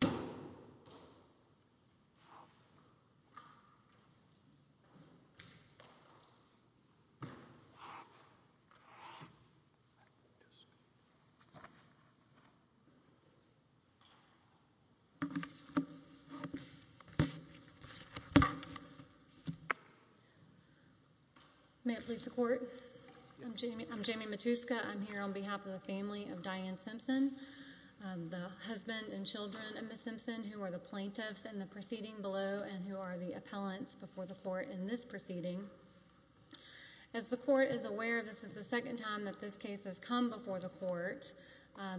cetera, and I'm here on behalf of the family of Diane Simpson, the husband and children of Ms. Simpson, who are the plaintiffs in the proceeding below and who are the appellants before the court in this proceeding. As the court is aware, this is the second time that this case has come before the court.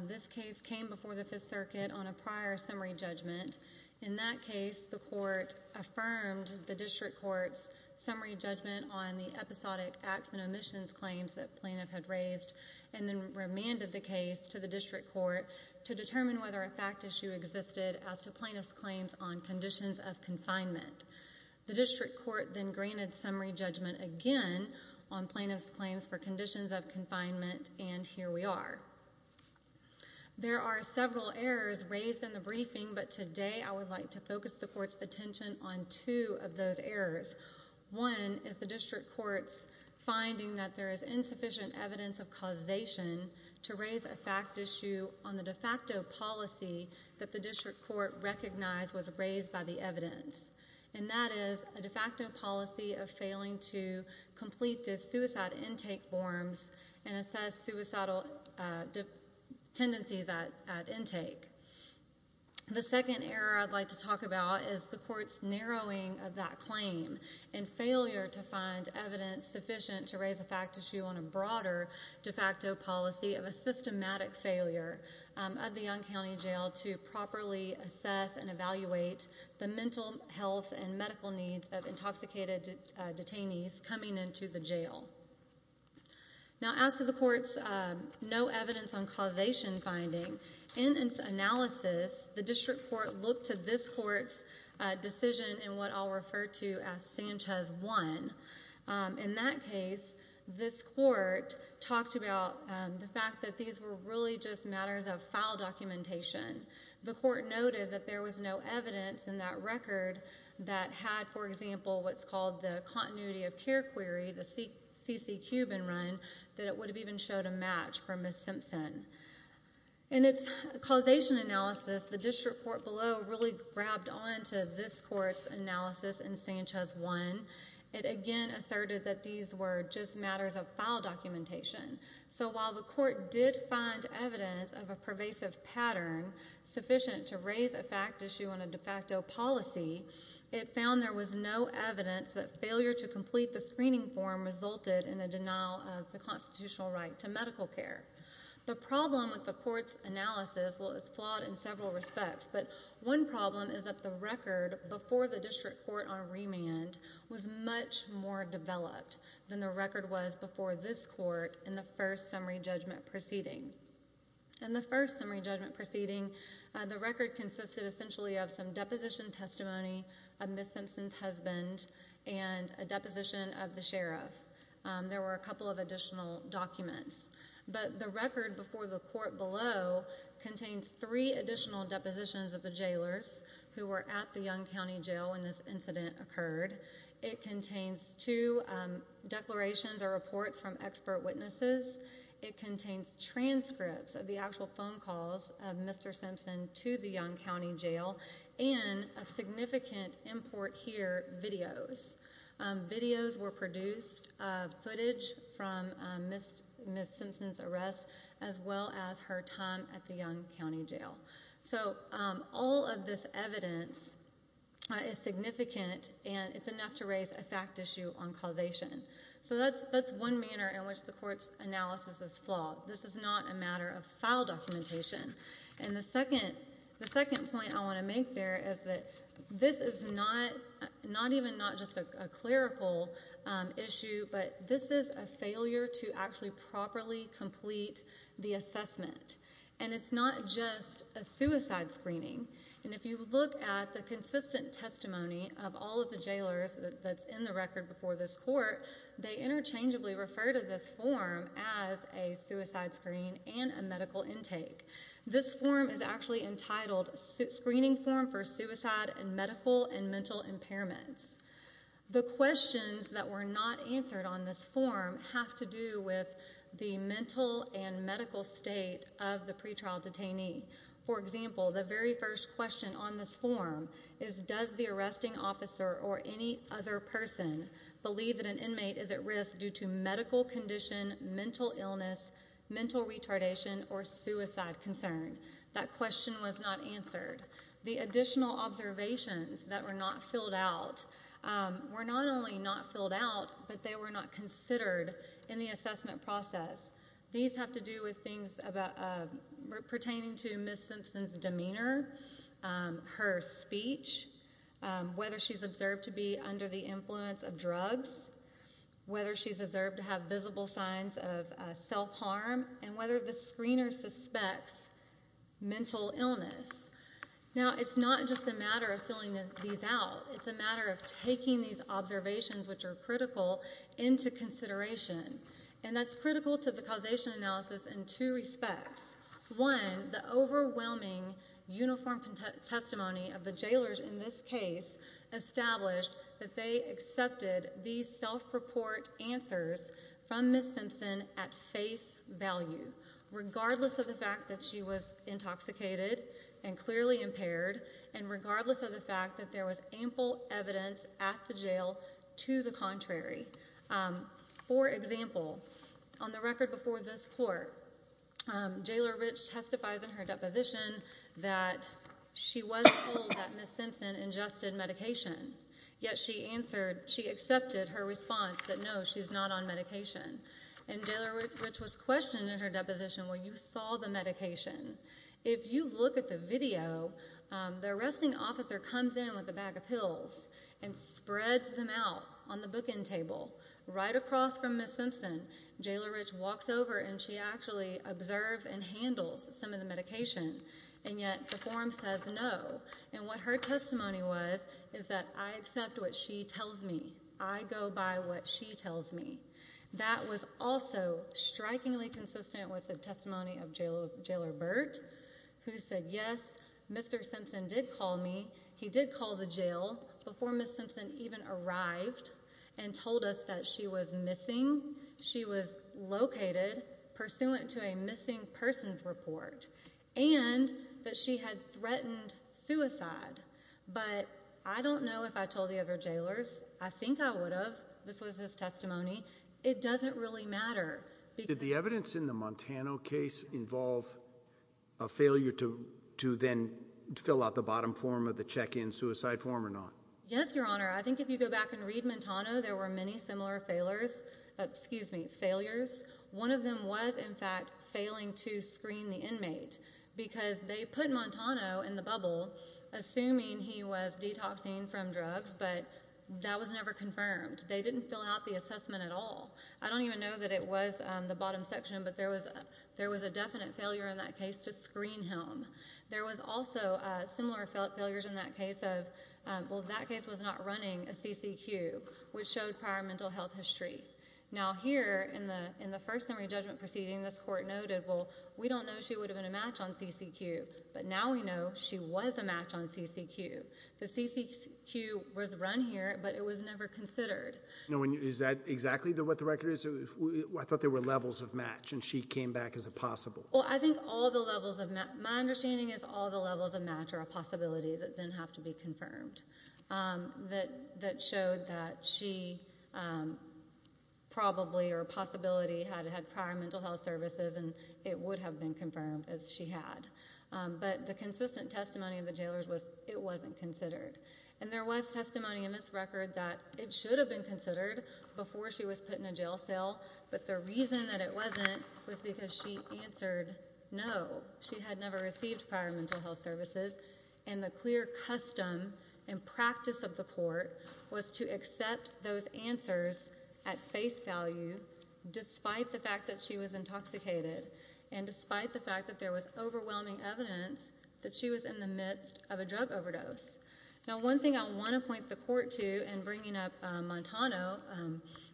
This case came before the Fifth Circuit on a prior summary judgment. In that case, the court affirmed the district court's summary judgment on the episodic acts and omissions claims that plaintiff had raised and then remanded the case to the district court to determine whether a fact issue existed as to plaintiff's claims on conditions of confinement. The district court then granted summary judgment again on plaintiff's claims for conditions of confinement, and here we are. There are several errors raised in the briefing, but today I would like to focus the court's attention on two of those errors. One is the district court's finding that there is insufficient evidence of causation to raise a fact issue on the de facto policy that the district court recognized was raised by the evidence, and that is a de facto policy of failing to complete the suicide intake forms and assess suicidal tendencies at intake. The second error I'd like to talk about is the court's narrowing of that claim and failure to find evidence sufficient to raise a fact issue on a broader de facto policy of a system automatic failure of the Young County Jail to properly assess and evaluate the mental health and medical needs of intoxicated detainees coming into the jail. Now as to the court's no evidence on causation finding, in its analysis, the district court looked to this court's decision in what I'll refer to as Sanchez 1. In that case, this court talked about the fact that these were really just matters of file documentation. The court noted that there was no evidence in that record that had, for example, what's called the continuity of care query, the CC Cuban run, that it would have even showed a match for Ms. Simpson. In its causation analysis, the district court below really grabbed onto this court's analysis in Sanchez 1. It again asserted that these were just matters of file documentation. So while the court did find evidence of a pervasive pattern sufficient to raise a fact issue on a de facto policy, it found there was no evidence that failure to complete the screening form resulted in a denial of the constitutional right to medical care. The problem with the court's analysis, well it's flawed in several respects, but one problem is that the record before the district court on remand was much more developed than the record was before this court in the first summary judgment proceeding. In the first summary judgment proceeding, the record consisted essentially of some deposition testimony of Ms. Simpson's husband and a deposition of the sheriff. There were a couple of additional documents, but the record before the court below contains three additional depositions of the jailers who were at the Yonge County Jail when this incident occurred. It contains two declarations or reports from expert witnesses. It contains transcripts of the actual phone calls of Mr. Simpson to the Yonge County Jail and a significant import here, videos. Videos were produced, footage from Ms. Simpson's arrest, as well as her time at the Yonge County Jail. So all of this evidence is significant and it's enough to raise a fact issue on causation. So that's one manner in which the court's analysis is flawed. This is not a matter of file documentation. And the second point I want to make there is that this is not even just a clerical issue, but this is a failure to actually properly complete the assessment. And it's not just a suicide screening. And if you look at the consistent testimony of all of the jailers that's in the record before this court, they interchangeably refer to this form as a suicide screen and a medical intake. This form is actually entitled Screening Form for Suicide and Medical and Mental Impairments. The questions that were not answered on this form have to do with the mental and medical state of the pretrial detainee. For example, the very first question on this form is, does the arresting officer or any other person believe that an inmate is at risk due to medical condition, mental illness, mental retardation, or suicide concern? That question was not answered. The additional observations that were not filled out were not only not filled out, but they were not considered in the assessment process. These have to do with things pertaining to Ms. Simpson's demeanor, her speech, whether she's observed to be under the influence of drugs, whether she's observed to have visible signs of self-harm, and whether the screener suspects mental illness. Now it's not just a matter of filling these out. It's a matter of taking these observations, which are critical, into consideration. And that's critical to the causation analysis in two respects. One, the overwhelming uniform testimony of the jailers in this case established that they accepted these self-report answers from Ms. Simpson at face value, regardless of the fact that she was intoxicated and clearly impaired, and regardless of the fact that there was ample evidence at the jail to the contrary. For example, on the record before this court, Jailer Rich testifies in her deposition that she was told that Ms. Simpson ingested medication, yet she accepted her response that no, she's not on medication. And Jailer Rich was questioned in her deposition where you saw the medication. If you look at the video, the arresting officer comes in with a bag of pills and spreads them out on the bookend table. Right across from Ms. Simpson, Jailer Rich walks over and she actually observes and handles some of the medication, and yet the form says no. And what her testimony was is that I accept what she tells me. I go by what she tells me. That was also strikingly consistent with the testimony of Jailer Burt, who said yes, Mr. Simpson did call me. He called before Ms. Simpson even arrived and told us that she was missing, she was located, pursuant to a missing persons report, and that she had threatened suicide. But I don't know if I told the other jailers. I think I would have. This was his testimony. It doesn't really matter. Did the evidence in the Montana case involve a failure to then fill out the bottom form of the check-in suicide form or not? Yes, Your Honor. I think if you go back and read Montano, there were many similar failures. One of them was, in fact, failing to screen the inmate, because they put Montano in the bubble, assuming he was detoxing from drugs, but that was never confirmed. They didn't fill out the assessment at all. I don't even know that it was the bottom section, but there was a definite failure in that case to screen him. There was also similar failures in that case of, well, that case was not running a CCQ, which showed prior mental health history. Now here, in the first summary judgment proceeding, this court noted, well, we don't know she would have been a match on CCQ, but now we know she was a match on CCQ. The CCQ was run here, but it was never considered. Is that exactly what the record is? I thought there were levels of match, and she came back as a possible. Well, I think all the levels of match, my understanding is all the levels of match are a possibility that then have to be confirmed. That showed that she probably, or possibility, had had prior mental health services, and it would have been confirmed, as she had. But the consistent testimony of the jailers was, it wasn't considered. And there was testimony in this record that it should have been considered before she was put in a jail cell, but the reason that it wasn't was because she answered no. She had never received prior mental health services, and the clear custom and practice of the court was to accept those answers at face value, despite the fact that she was intoxicated, and despite the fact that there was overwhelming evidence that she was in the midst of a drug overdose. Now, one thing I want to point the court to in bringing up Montano,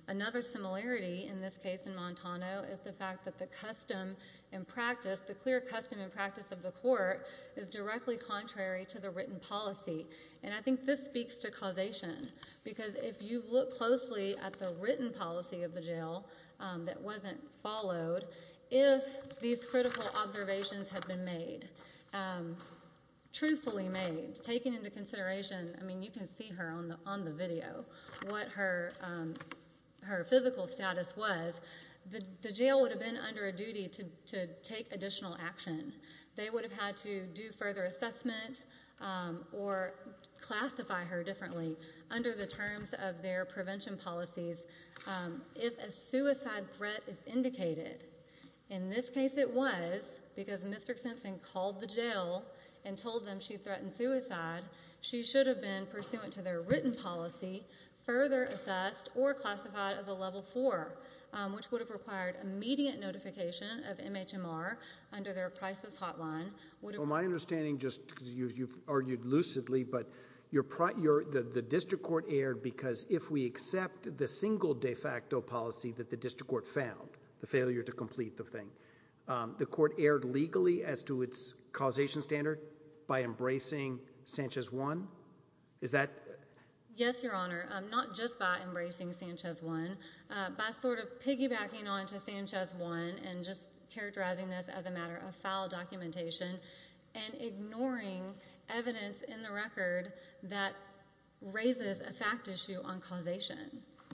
another similarity in this case in Montano, is the fact that the custom and practice, the clear custom and practice of the court, is directly contrary to the written policy. And I think this speaks to causation, because if you look closely at the written policy of the jail that wasn't followed, if these critical observations had been made, truthfully made, taken into consideration, I mean, you can see her on the video, what her physical status was, the jail would have been under a duty to take additional action. They would have had to do further assessment or classify her differently under the terms of their prevention policies if a suicide threat is indicated. In this case it was, because Mr. Simpson called the jail and told them she threatened suicide, she should have been pursuant to their written policy, further assessed or classified as a level four, which would have required immediate notification of MHMR under their crisis hotline. Well, my understanding, just because you've argued lucidly, but the district court erred because if we accept the single de facto policy that the district court found, the failure to complete the thing, the court erred legally as to its causation standard by embracing Sanchez One? Is that? Yes, Your Honor. Not just by embracing Sanchez One, by sort of piggybacking onto Sanchez One and just characterizing this as a matter of foul documentation and ignoring evidence in the record that raises a fact issue on causation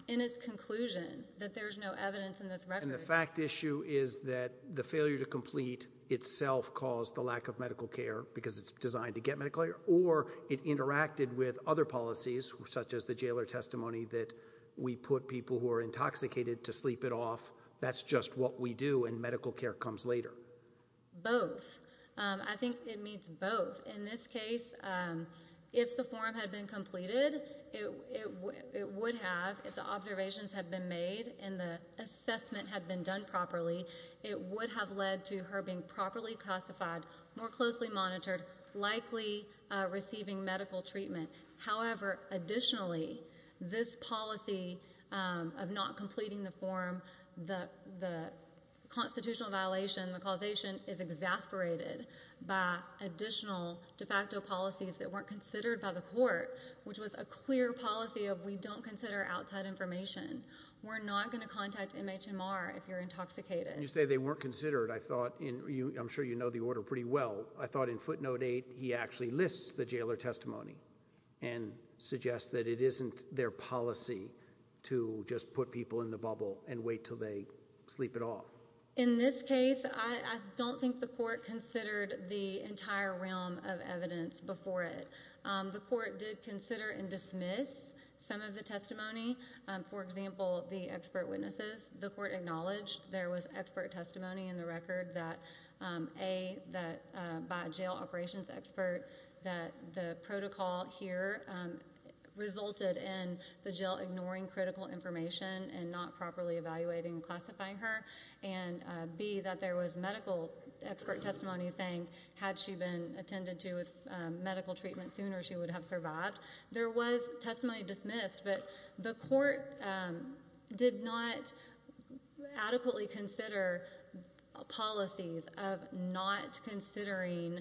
in its conclusion that there's no evidence in this record. And the fact issue is that the failure to complete itself caused the lack of medical care because it's designed to get medical care or it interacted with other policies such as the jailer testimony that we put people who are intoxicated to sleep it off. That's just what we do and medical care comes later. Both. I think it means both. In this case, if the form had been completed, it would have, if the observations had been made and the assessment had been done properly, it would have led to her being properly classified, more closely monitored, likely receiving medical treatment. However, additionally, this policy of not completing the form, the constitutional violation, the causation is exasperated by additional de facto policies that weren't considered by the court, which was a clear policy of we don't consider outside information. We're not going to contact MHMR if you're intoxicated. You say they weren't considered. I thought in, I'm sure you know the order pretty well. I thought in footnote eight, he actually lists the jailer testimony and suggests that it isn't their policy to just put people in the bubble and wait till they sleep it off. In this case, I don't think the court considered the entire realm of evidence before it. The court did consider and dismiss some of the testimony. For example, the expert witnesses. The court acknowledged there was expert testimony in the record that, A, that by a jail operations expert that the protocol here resulted in the jail ignoring critical information and not properly evaluating and classifying her, and B, that there was medical expert testimony saying had she been attended to with medical treatment sooner, she would have survived. There was testimony dismissed, but the court did not adequately consider policies of not considering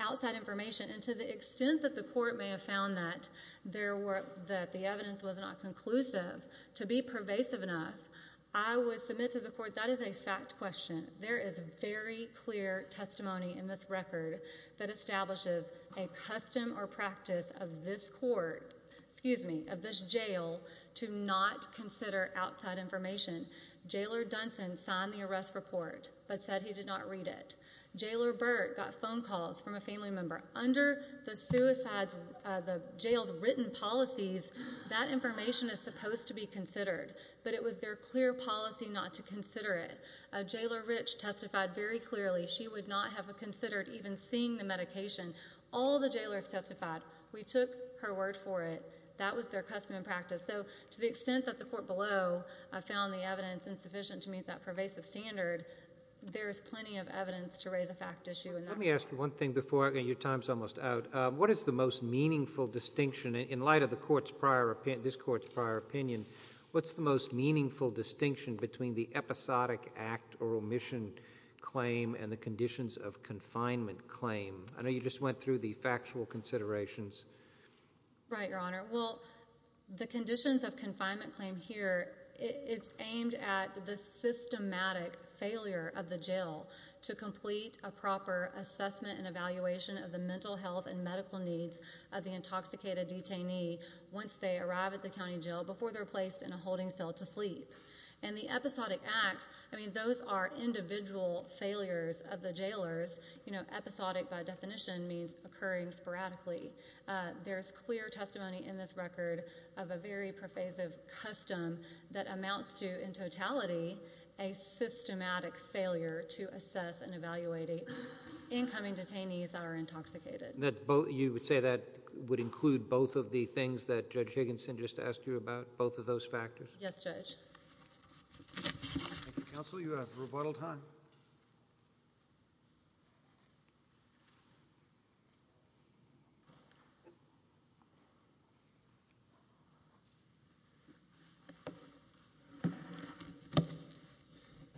outside information, and to the extent that the court may have found that the evidence was not conclusive to be pervasive enough, I would submit to the court that is a fact question. There is very clear testimony in this record that establishes a custom or practice of this court, excuse me, of this jail to not consider outside information. Jailer Dunson signed the arrest report but said he did not read it. Jailer Burt got phone calls from a family member. Under the jail's written policies, that information is supposed to be considered, but it was their clear policy not to consider it. Jailer Rich testified very clearly she would not have considered even seeing the medication. All the jailers testified. We took her word for it. That was their custom and practice. To the extent that the court below found the evidence insufficient to meet that pervasive Let me ask you one thing before your time is almost out. What is the most meaningful distinction, in light of this court's prior opinion, what's the most meaningful distinction between the episodic act or omission claim and the conditions of confinement claim? I know you just went through the factual considerations. Right, Your Honor. Well, the conditions of confinement claim here, it's aimed at the systematic failure of the jail to complete a proper assessment and evaluation of the mental health and medical needs of the intoxicated detainee once they arrive at the county jail before they're placed in a holding cell to sleep. And the episodic acts, I mean, those are individual failures of the jailers. You know, episodic, by definition, means occurring sporadically. There's clear testimony in this record of a very pervasive custom that amounts to, in fact, failure to assess and evaluate incoming detainees that are intoxicated. You would say that would include both of the things that Judge Higginson just asked you about? Both of those factors? Yes, Judge. Thank you, Counsel. You have rebuttal time.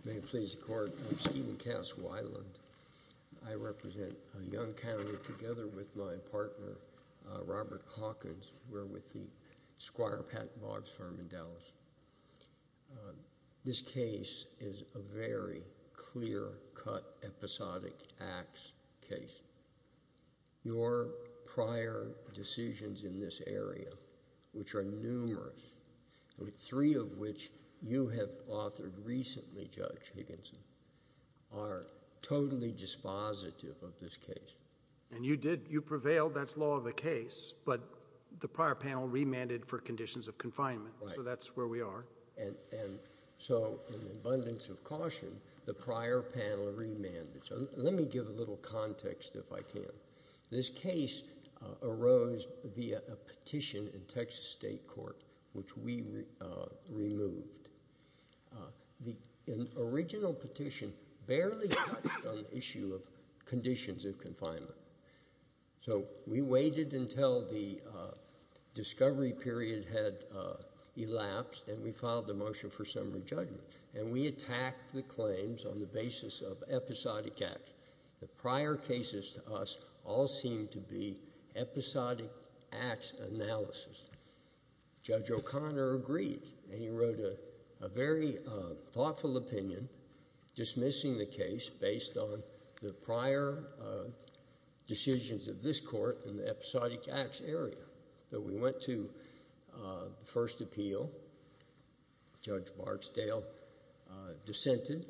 May it please the Court, I'm Stephen Caswell Island. I represent a young county together with my partner, Robert Hawkins. We're with the Squire Patten Logs firm in Dallas. This case is a very clear-cut, episodic acts case. Your prior decisions in this area, which are numerous, three of which you have authored recently, Judge Higginson, are totally dispositive of this case. And you prevailed, that's law of the case, but the prior panel remanded for conditions of confinement. Right. So that's where we are. And so, in abundance of caution, the prior panel remanded. Let me give a little context, if I can. This case arose via a petition in Texas State Court, which we removed. An original petition barely touched on the issue of conditions of confinement. So, we waited until the discovery period had elapsed, and we filed the motion for summary judgment. And we attacked the claims on the basis of episodic acts. The prior cases to us all seemed to be episodic acts analysis. Judge O'Connor agreed, and he wrote a very thoughtful opinion dismissing the case based on the prior decisions of this court in the episodic acts area. So, we went to the first appeal. Judge Barksdale dissented,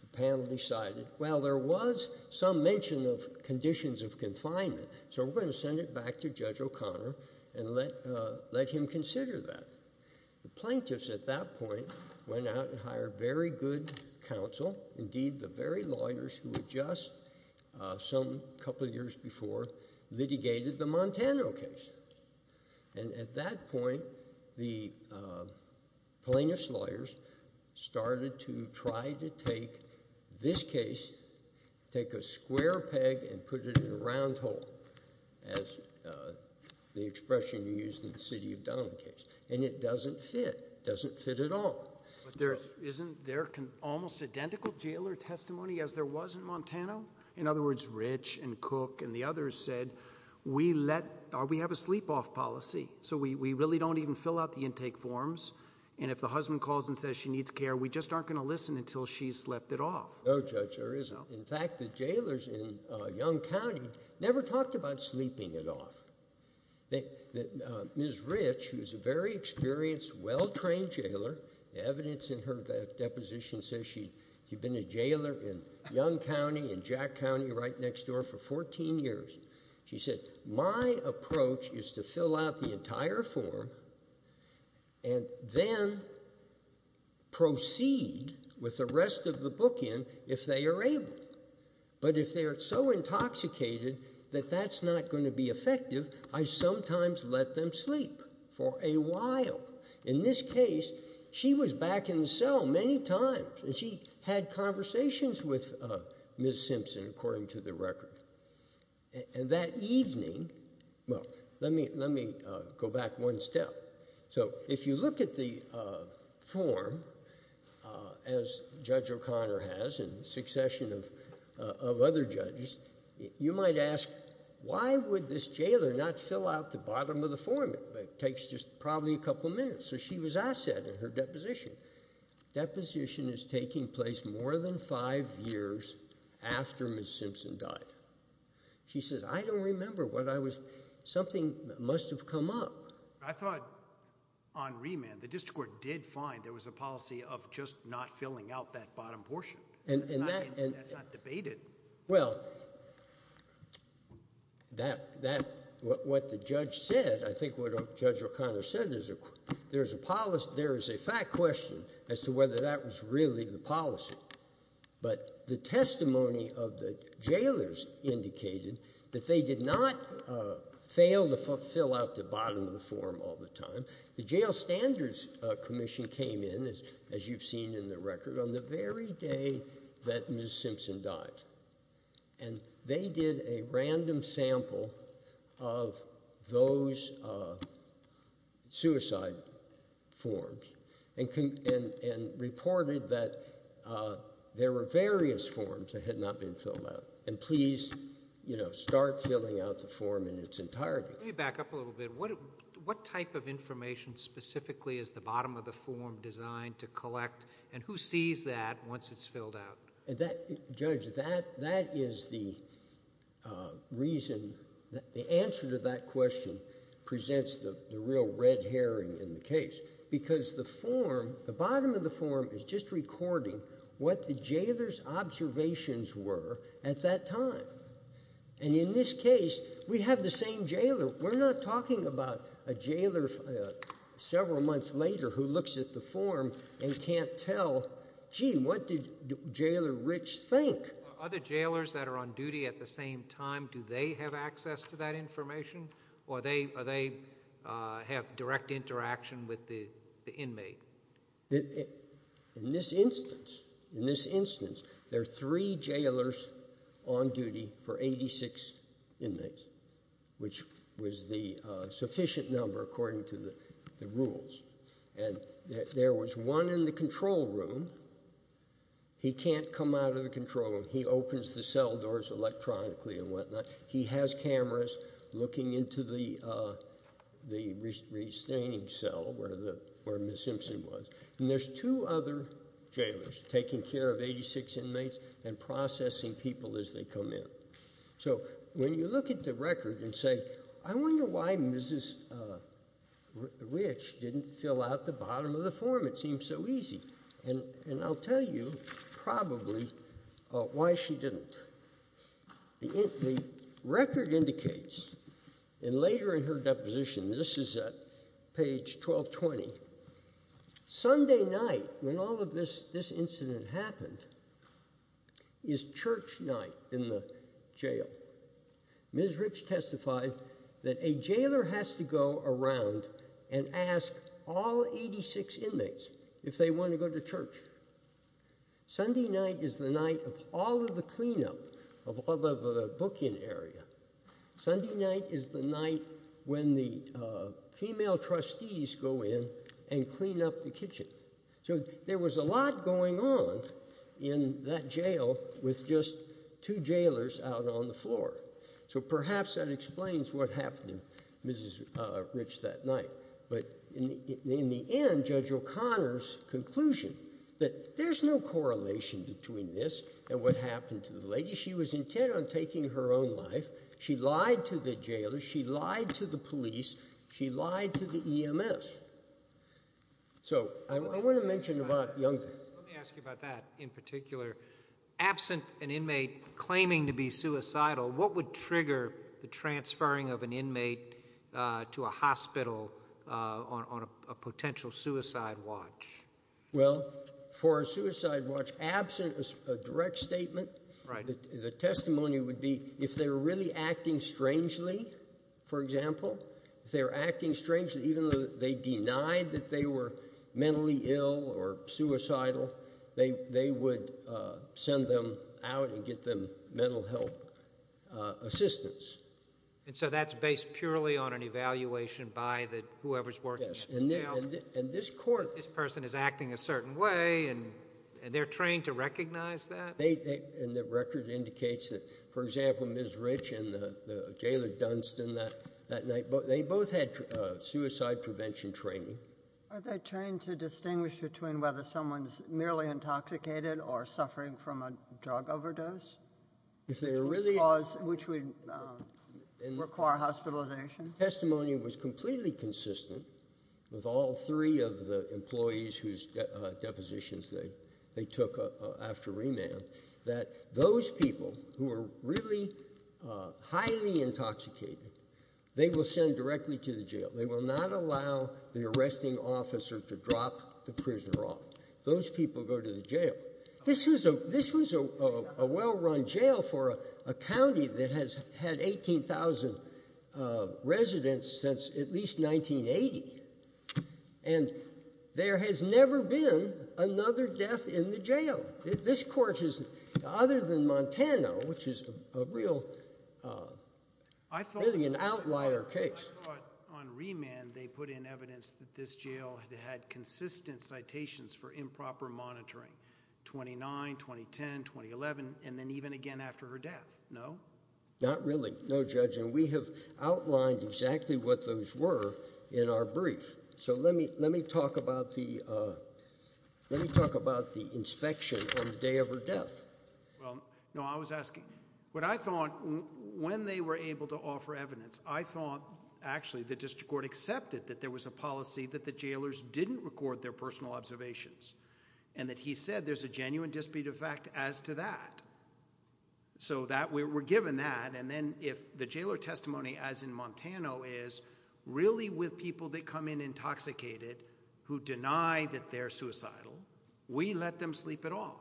the panel decided, well, there was some mention of conditions of confinement, so we're going to send it back to Judge O'Connor and let him consider that. The plaintiffs, at that point, went out and hired very good counsel, indeed, the very lawyers who had just, some couple of years before, litigated the Montana case. And at that point, the plaintiffs' lawyers started to try to take this case, take a square peg and put it in a round hole, as the expression used in the City of Donald case. And it doesn't fit. It doesn't fit at all. But isn't there almost identical jailer testimony as there was in Montana? In other words, Rich and Cook and the others said, we have a sleep off policy, so we really don't even fill out the intake forms, and if the husband calls and says she needs care, we just aren't going to listen until she's slept it off. No, Judge, there isn't. In fact, the jailers in Yonge County never talked about sleeping it off. Ms. Rich, who is a very experienced, well-trained jailer, the evidence in her deposition says she'd been a jailer in Yonge County and Jack County right next door for 14 years, she said, my approach is to fill out the entire form and then proceed with the rest of the bookend if they are able. But if they are so intoxicated that that's not going to be effective, I sometimes let them sleep for a while. In this case, she was back in the cell many times, and she had conversations with Ms. Simpson, according to the record. And that evening, well, let me go back one step. So if you look at the form, as Judge O'Connor has and a succession of other judges, you might ask, why would this jailer not fill out the bottom of the form? It takes just probably a couple of minutes. So she was asset in her deposition. Deposition is taking place more than five years after Ms. Simpson died. She says, I don't remember what I was, something must have come up. I thought on remand, the district court did find there was a policy of just not filling out that bottom portion, and that's not debated. Well, that, what the judge said, I think what Judge O'Connor said, there's a policy, there is a fact question as to whether that was really the policy. But the testimony of the jailers indicated that they did not fail to fill out the bottom of the form all the time. The Jail Standards Commission came in, as you've seen in the record, on the very day that Ms. Simpson died. And they did a random sample of those suicide forms and reported that there were various forms that had not been filled out. And please, you know, start filling out the form in its entirety. Let me back up a little bit. What type of information specifically is the bottom of the form designed to collect? And who sees that once it's filled out? And that, Judge, that is the reason, the answer to that question presents the real red herring in the case. Because the form, the bottom of the form is just recording what the jailers' observations were at that time. And in this case, we have the same jailer. We're not talking about a jailer several months later who looks at the form and can't tell, gee, what did Jailer Rich think? Other jailers that are on duty at the same time, do they have access to that information? Or are they, have direct interaction with the inmate? In this instance, in this instance, there are three jailers on duty for 86 inmates, which was the sufficient number according to the rules. And there was one in the control room. He can't come out of the control room. He opens the cell doors electronically and whatnot. He has cameras looking into the restraining cell where Ms. Simpson was. And there's two other jailers taking care of 86 inmates and processing people as they come in. So when you look at the record and say, I wonder why Mrs. Rich didn't fill out the bottom of the form. It seems so easy. And I'll tell you probably why she didn't. The record indicates, and later in her deposition, this is at page 1220, Sunday night, when all of this incident happened, is church night in the jail. Ms. Rich testified that a jailer has to go around and ask all 86 inmates if they want to go to church. Sunday night is the night of all of the cleanup of all of the bookend area. Sunday night is the night when the female trustees go in and clean up the kitchen. So there was a lot going on in that jail with just two jailers out on the floor. So perhaps that explains what happened to Mrs. Rich that night. But in the end, Judge O'Connor's conclusion that there's no correlation between this and what happened to the lady. She was intent on taking her own life. She lied to the jailer. She lied to the police. She lied to the EMS. So I want to mention about Young. Let me ask you about that in particular. Absent an inmate claiming to be suicidal, what would trigger the transferring of an inmate on a potential suicide watch? Well, for a suicide watch, absent a direct statement, the testimony would be, if they were really acting strangely, for example, if they were acting strangely, even though they denied that they were mentally ill or suicidal, they would send them out and get them mental health assistance. And so that's based purely on an evaluation by whoever's working at the jail. And this person is acting a certain way, and they're trained to recognize that? And the record indicates that, for example, Ms. Rich and the jailer Dunstan that night, they both had suicide prevention training. Are they trained to distinguish between whether someone's merely intoxicated or suffering from a drug overdose? If they were really- Which would require hospitalization? Testimony was completely consistent with all three of the employees whose depositions they took after remand, that those people who were really highly intoxicated, they will send directly to the jail. They will not allow the arresting officer to drop the prisoner off. Those people go to the jail. This was a well-run jail for a county that has had 18,000 residents since at least 1980. And there has never been another death in the jail. This court is, other than Montana, which is a real, really an outlier case. I thought on remand, they put in evidence that this jail had had consistent citations for improper monitoring, 29, 2010, 2011, and then even again after her death, no? Not really, no, Judge. And we have outlined exactly what those were in our brief. So let me talk about the inspection on the day of her death. Well, no, I was asking. What I thought, when they were able to offer evidence, I thought, actually, the district court accepted that there was a policy that the jailers didn't record their personal observations, and that he said there's a genuine dispute of fact as to that. So we're given that, and then if the jailer testimony as in Montana is really with people that come in intoxicated who deny that they're suicidal, we let them sleep it off.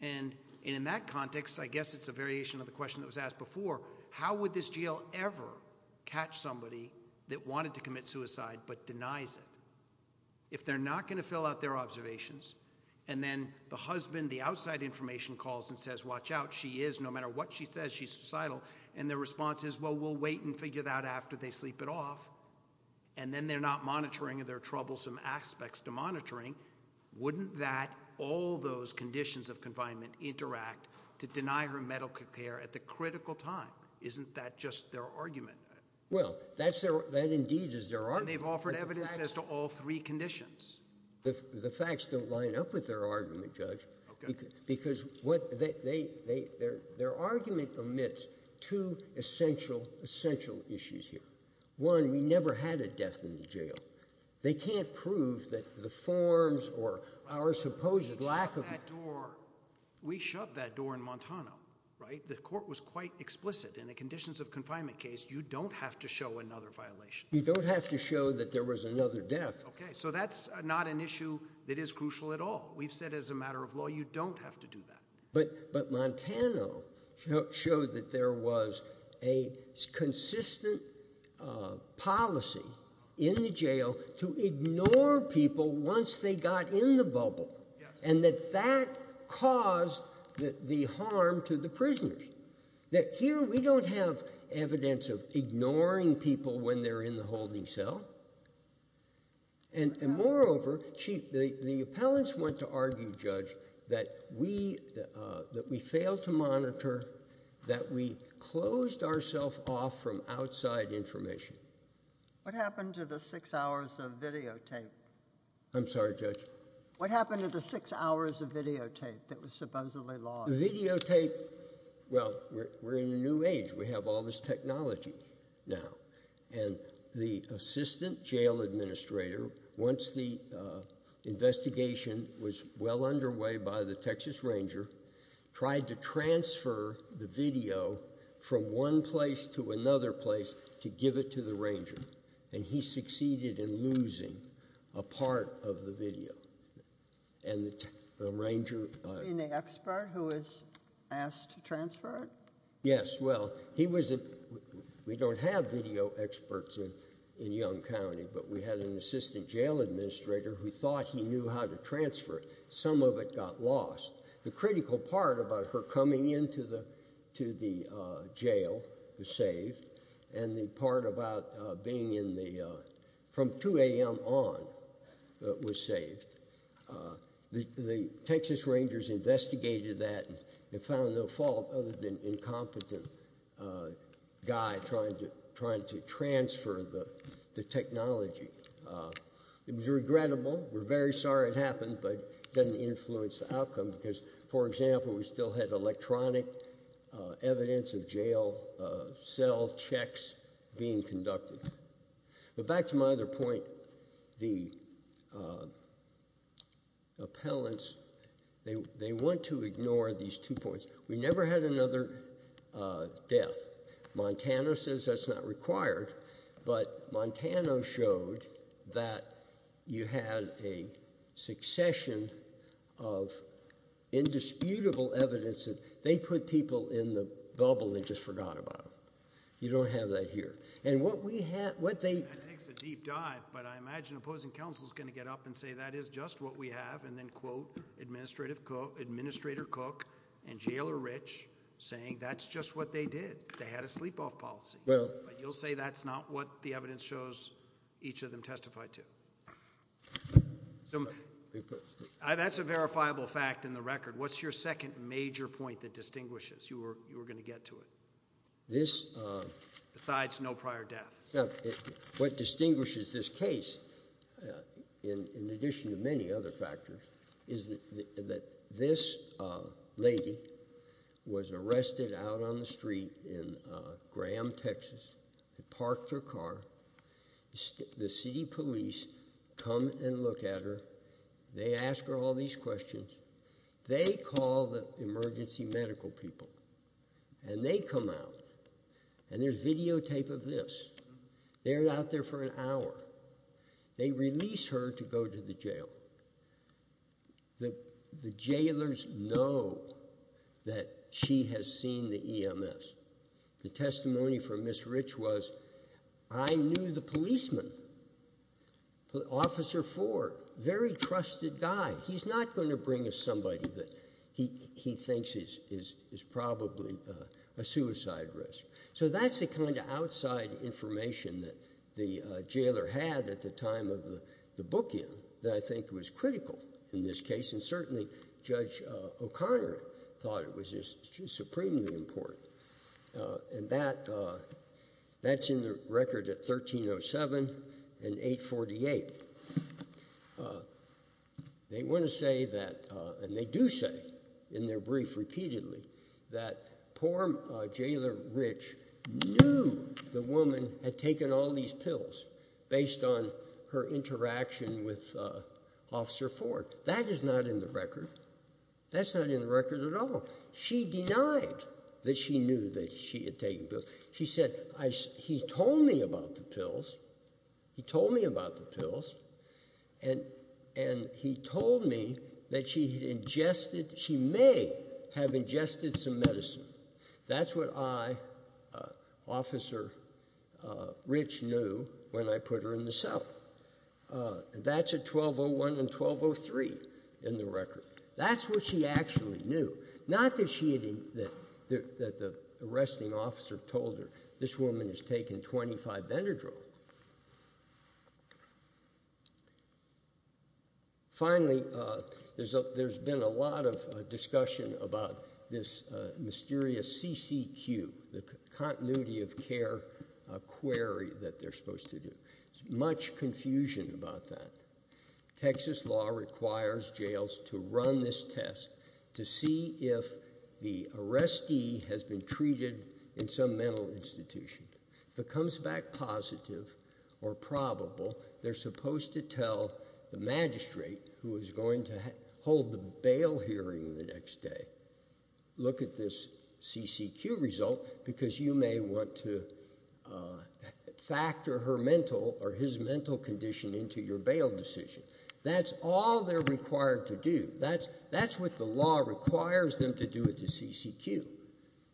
And in that context, I guess it's a variation of the question that was asked before. How would this jail ever catch somebody that wanted to commit suicide but denies it? If they're not going to fill out their observations, and then the husband, the outside information calls and says, watch out, she is, no matter what she says, she's suicidal, and the response is, well, we'll wait and figure it out after they sleep it off, and then they're not monitoring their troublesome aspects to monitoring. Wouldn't that, all those conditions of confinement, interact to deny her medical care at the critical time? Isn't that just their argument? Well, that indeed is their argument. And they've offered evidence as to all three conditions. The facts don't line up with their argument, Judge. Because what they, their argument omits two essential, essential issues here. One, we never had a death in the jail. They can't prove that the forms or our supposed lack of- We shut that door. We shut that door in Montana, right? The court was quite explicit. In a conditions of confinement case, you don't have to show another violation. You don't have to show that there was another death. Okay, so that's not an issue that is crucial at all. We've said as a matter of law, you don't have to do that. But, but Montana showed that there was a consistent policy in the jail to ignore people once they got in the bubble. That here, we don't have evidence of ignoring people when they're in the holding cell. And, and moreover, she, the, the appellants went to argue, Judge, that we, that we failed to monitor, that we closed ourself off from outside information. What happened to the six hours of videotape? I'm sorry, Judge. What happened to the six hours of videotape that was supposedly lost? The videotape, well, we're, we're in a new age. We have all this technology now. And the assistant jail administrator, once the investigation was well underway by the Texas ranger, tried to transfer the video from one place to another place to give it to the ranger. And he succeeded in losing a part of the video. And the, the ranger. You mean the expert who was asked to transfer it? Yes, well, he was, we don't have video experts in, in Yonge County, but we had an assistant jail administrator who thought he knew how to transfer it. Some of it got lost. The critical part about her coming into the, to the jail was saved. And the part about being in the, from 2 a.m. on was saved. The, the Texas rangers investigated that and found no fault other than incompetent guy trying to, trying to transfer the, the technology. It was regrettable. We're very sorry it happened, but it doesn't influence the outcome. Because, for example, we still had electronic evidence of jail cell checks being conducted. But back to my other point, the appellants, they, they want to ignore these two points. We never had another death. Montana says that's not required, but Montana showed that you had a succession of indisputable evidence that they put people in the bubble and just forgot about them. You don't have that here. And what we have, what they. It takes a deep dive, but I imagine opposing counsel's going to get up and say that is just what we have, and then quote Administrative Cook, Administrator Cook and Jailer Rich saying that's just what they did. They had a sleep off policy. Well. But you'll say that's not what the evidence shows each of them testified to. So, that's a verifiable fact in the record. What's your second major point that distinguishes, you were, you were going to get to it? This. Besides no prior death. Now, what distinguishes this case, in addition to many other factors, is that this lady was arrested out on the street in Graham, Texas. They parked her car. The city police come and look at her. They ask her all these questions. They call the emergency medical people. And they come out, and there's videotape of this. They're out there for an hour. They release her to go to the jail. The, the jailers know that she has seen the EMS. The testimony from Ms. Rich was, I knew the policeman, Officer Ford, very trusted guy. He's not going to bring us somebody that he, he thinks is, is, is probably a suicide risk. So, that's the kind of outside information that the jailer had at the time of the, the booking that I think was critical in this case. And certainly, Judge O'Connor thought it was supremely important. And that, that's in the record at 1307 and 848. They want to say that, and they do say in their brief repeatedly, that poor jailer Rich knew the woman had taken all these pills based on her interaction with Officer Ford. That is not in the record. That's not in the record at all. She denied that she knew that she had taken pills. She said, I, he told me about the pills. He told me about the pills. And, and he told me that she had ingested, she may have ingested some medicine. That's what I, Officer Rich knew when I put her in the cell. And that's at 1201 and 1203 in the record. That's what she actually knew. Not that she had, that, that the arresting officer told her, this woman has taken 25 Benadryl. Finally, there's a, there's been a lot of discussion about this mysterious CCQ, the continuity of care query that they're supposed to do. There's much confusion about that. Texas law requires jails to run this test to see if the arrestee has been treated in some mental institution. If it comes back positive or probable, they're supposed to tell the magistrate who is going to hold the bail hearing the next day. Look at this CCQ result because you may want to factor her mental or your bail decision. That's all they're required to do. That's, that's what the law requires them to do with the CCQ.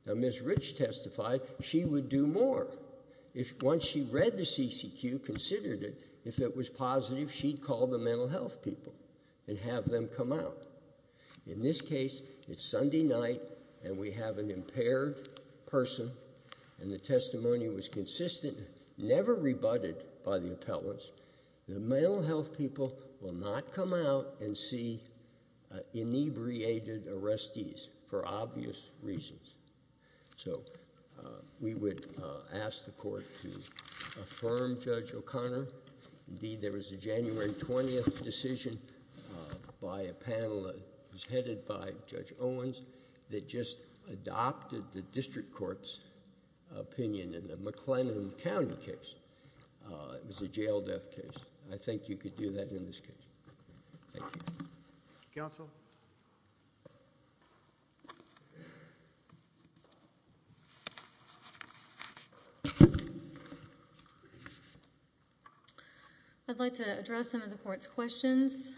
Now Ms. Rich testified, she would do more. If once she read the CCQ, considered it, if it was positive, she'd call the mental health people and have them come out. In this case, it's Sunday night and we have an impaired person. And the testimony was consistent, never rebutted by the appellants. The mental health people will not come out and see inebriated arrestees for obvious reasons. So we would ask the court to affirm Judge O'Connor. Indeed, there was a January 20th decision by a panel that was headed by Judge Owens that just adopted the district court's opinion in the McLennan County case. It was a jail death case. I think you could do that in this case. Thank you. Council. I'd like to address some of the court's questions.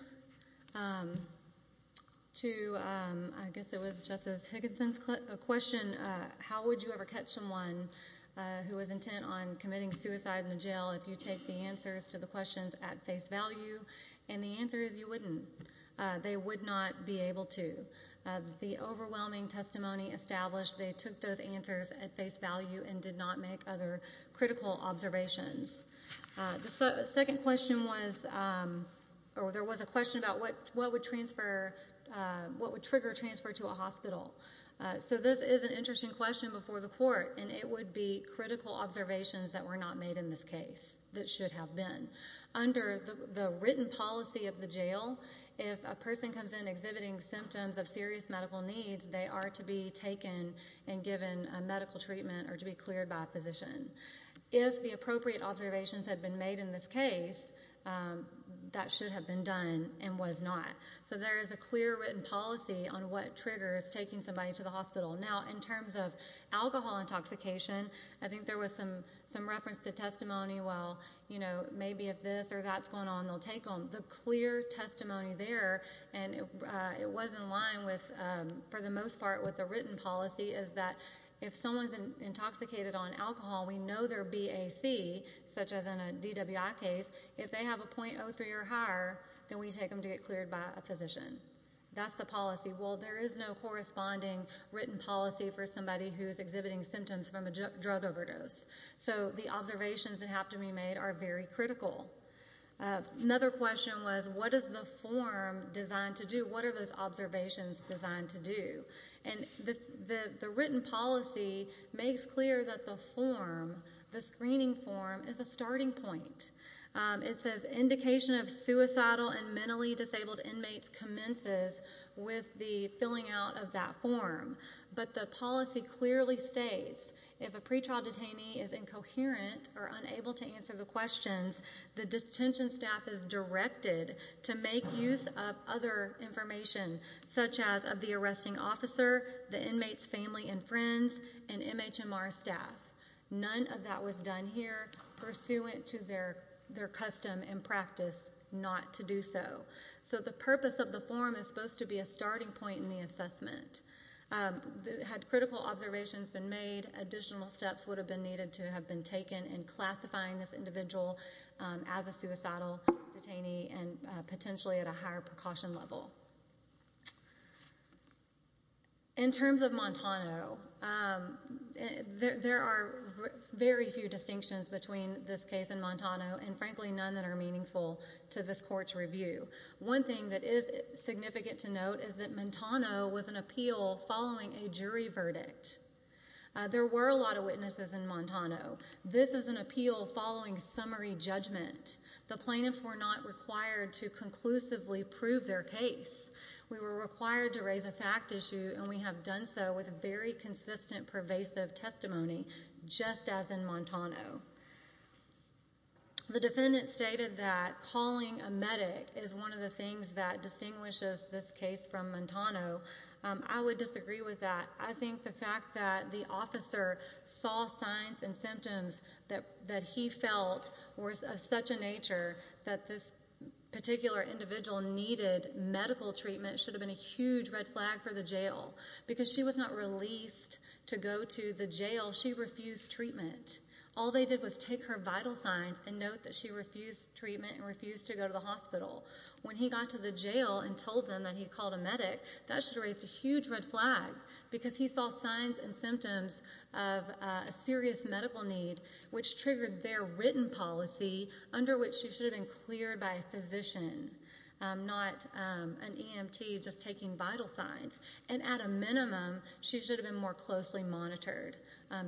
To, I guess it was Justice Higginson's question, how would you ever protect someone who is intent on committing suicide in the jail if you take the answers to the questions at face value? And the answer is you wouldn't. They would not be able to. The overwhelming testimony established they took those answers at face value and did not make other critical observations. The second question was, or there was a question about what would trigger a transfer to a hospital. So this is an interesting question before the court and it would be critical observations that were not made in this case that should have been. Under the written policy of the jail, if a person comes in exhibiting symptoms of serious medical needs, they are to be taken and given a medical treatment or to be cleared by a physician. If the appropriate observations have been made in this case, that should have been done and was not. So there is a clear written policy on what triggers taking somebody to the hospital. Now, in terms of alcohol intoxication, I think there was some reference to testimony. Well, maybe if this or that's going on, they'll take them. The clear testimony there, and it was in line with, for the most part, with the written policy is that if someone's intoxicated on alcohol, we know their BAC, such as in a DWI case, if they have a 0.03 or a physician, that's the policy. Well, there is no corresponding written policy for somebody who's exhibiting symptoms from a drug overdose. So the observations that have to be made are very critical. Another question was, what is the form designed to do? What are those observations designed to do? And the written policy makes clear that the form, the screening form, is a starting point. It says indication of suicidal and mentally disabled inmates commences with the filling out of that form. But the policy clearly states, if a pretrial detainee is incoherent or unable to answer the questions, the detention staff is directed to make use of other information, such as of the arresting officer, the inmates' family and friends, and MHMR staff. None of that was done here pursuant to their custom and practice not to do so. So the purpose of the form is supposed to be a starting point in the assessment. Had critical observations been made, additional steps would have been needed to have been taken in classifying this individual as a suicidal detainee and potentially at a higher precaution level. In terms of Montano, there are very few distinctions between this case and Montano, and frankly none that are meaningful to this court's review. One thing that is significant to note is that Montano was an appeal following a jury verdict. There were a lot of witnesses in Montano. This is an appeal following summary judgment. The plaintiffs were not required to conclusively prove their case. We were required to raise a fact issue, and we have done so with very consistent, pervasive testimony, just as in Montano. The defendant stated that calling a medic is one of the things that distinguishes this case from Montano. I would disagree with that. I think the fact that the officer saw signs and symptoms that he felt were of such a nature that this particular individual needed medical treatment should have been a huge red flag for the jail. Because she was not released to go to the jail, she refused treatment. All they did was take her vital signs and note that she refused treatment and refused to go to the hospital. When he got to the jail and told them that he called a medic, that should have raised a huge red flag because he saw signs and symptoms of a serious medical need, which triggered their written policy under which she should have been cleared by a physician, not an EMT just taking vital signs. And at a minimum, she should have been more closely monitored,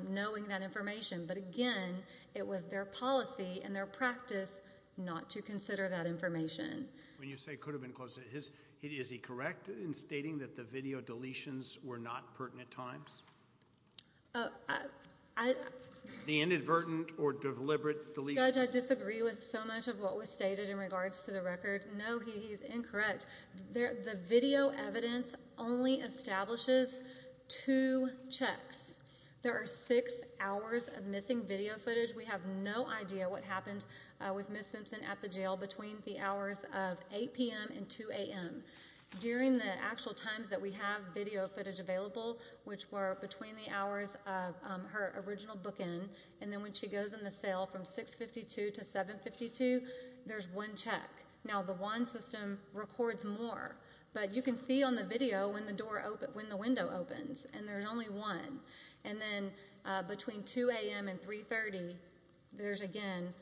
knowing that information. But again, it was their policy and their practice not to consider that information. When you say could have been closer, is he correct in stating that the video deletions were not pertinent times? The inadvertent or deliberate deletions? Judge, I disagree with so much of what was stated in regards to the record. No, he's incorrect. The video evidence only establishes two checks. There are six hours of missing video footage. We have no idea what happened with Ms. Simpson at the jail between the hours of 8 p.m. and 2 a.m. During the actual times that we have video footage available, which were between the hours of her original bookend, and then when she goes in the cell from 6.52 to 7.52, there's one check. Now, the WAN system records more, but you can see on the video when the window opens, and there's only one. And then between 2 a.m. and 3.30, there's, again,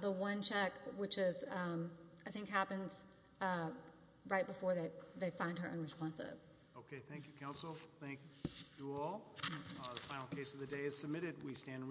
the one check, which I think happens right before they find her unresponsive. Okay, thank you, counsel. Thank you all. The final case of the day is submitted. We stand in recognition.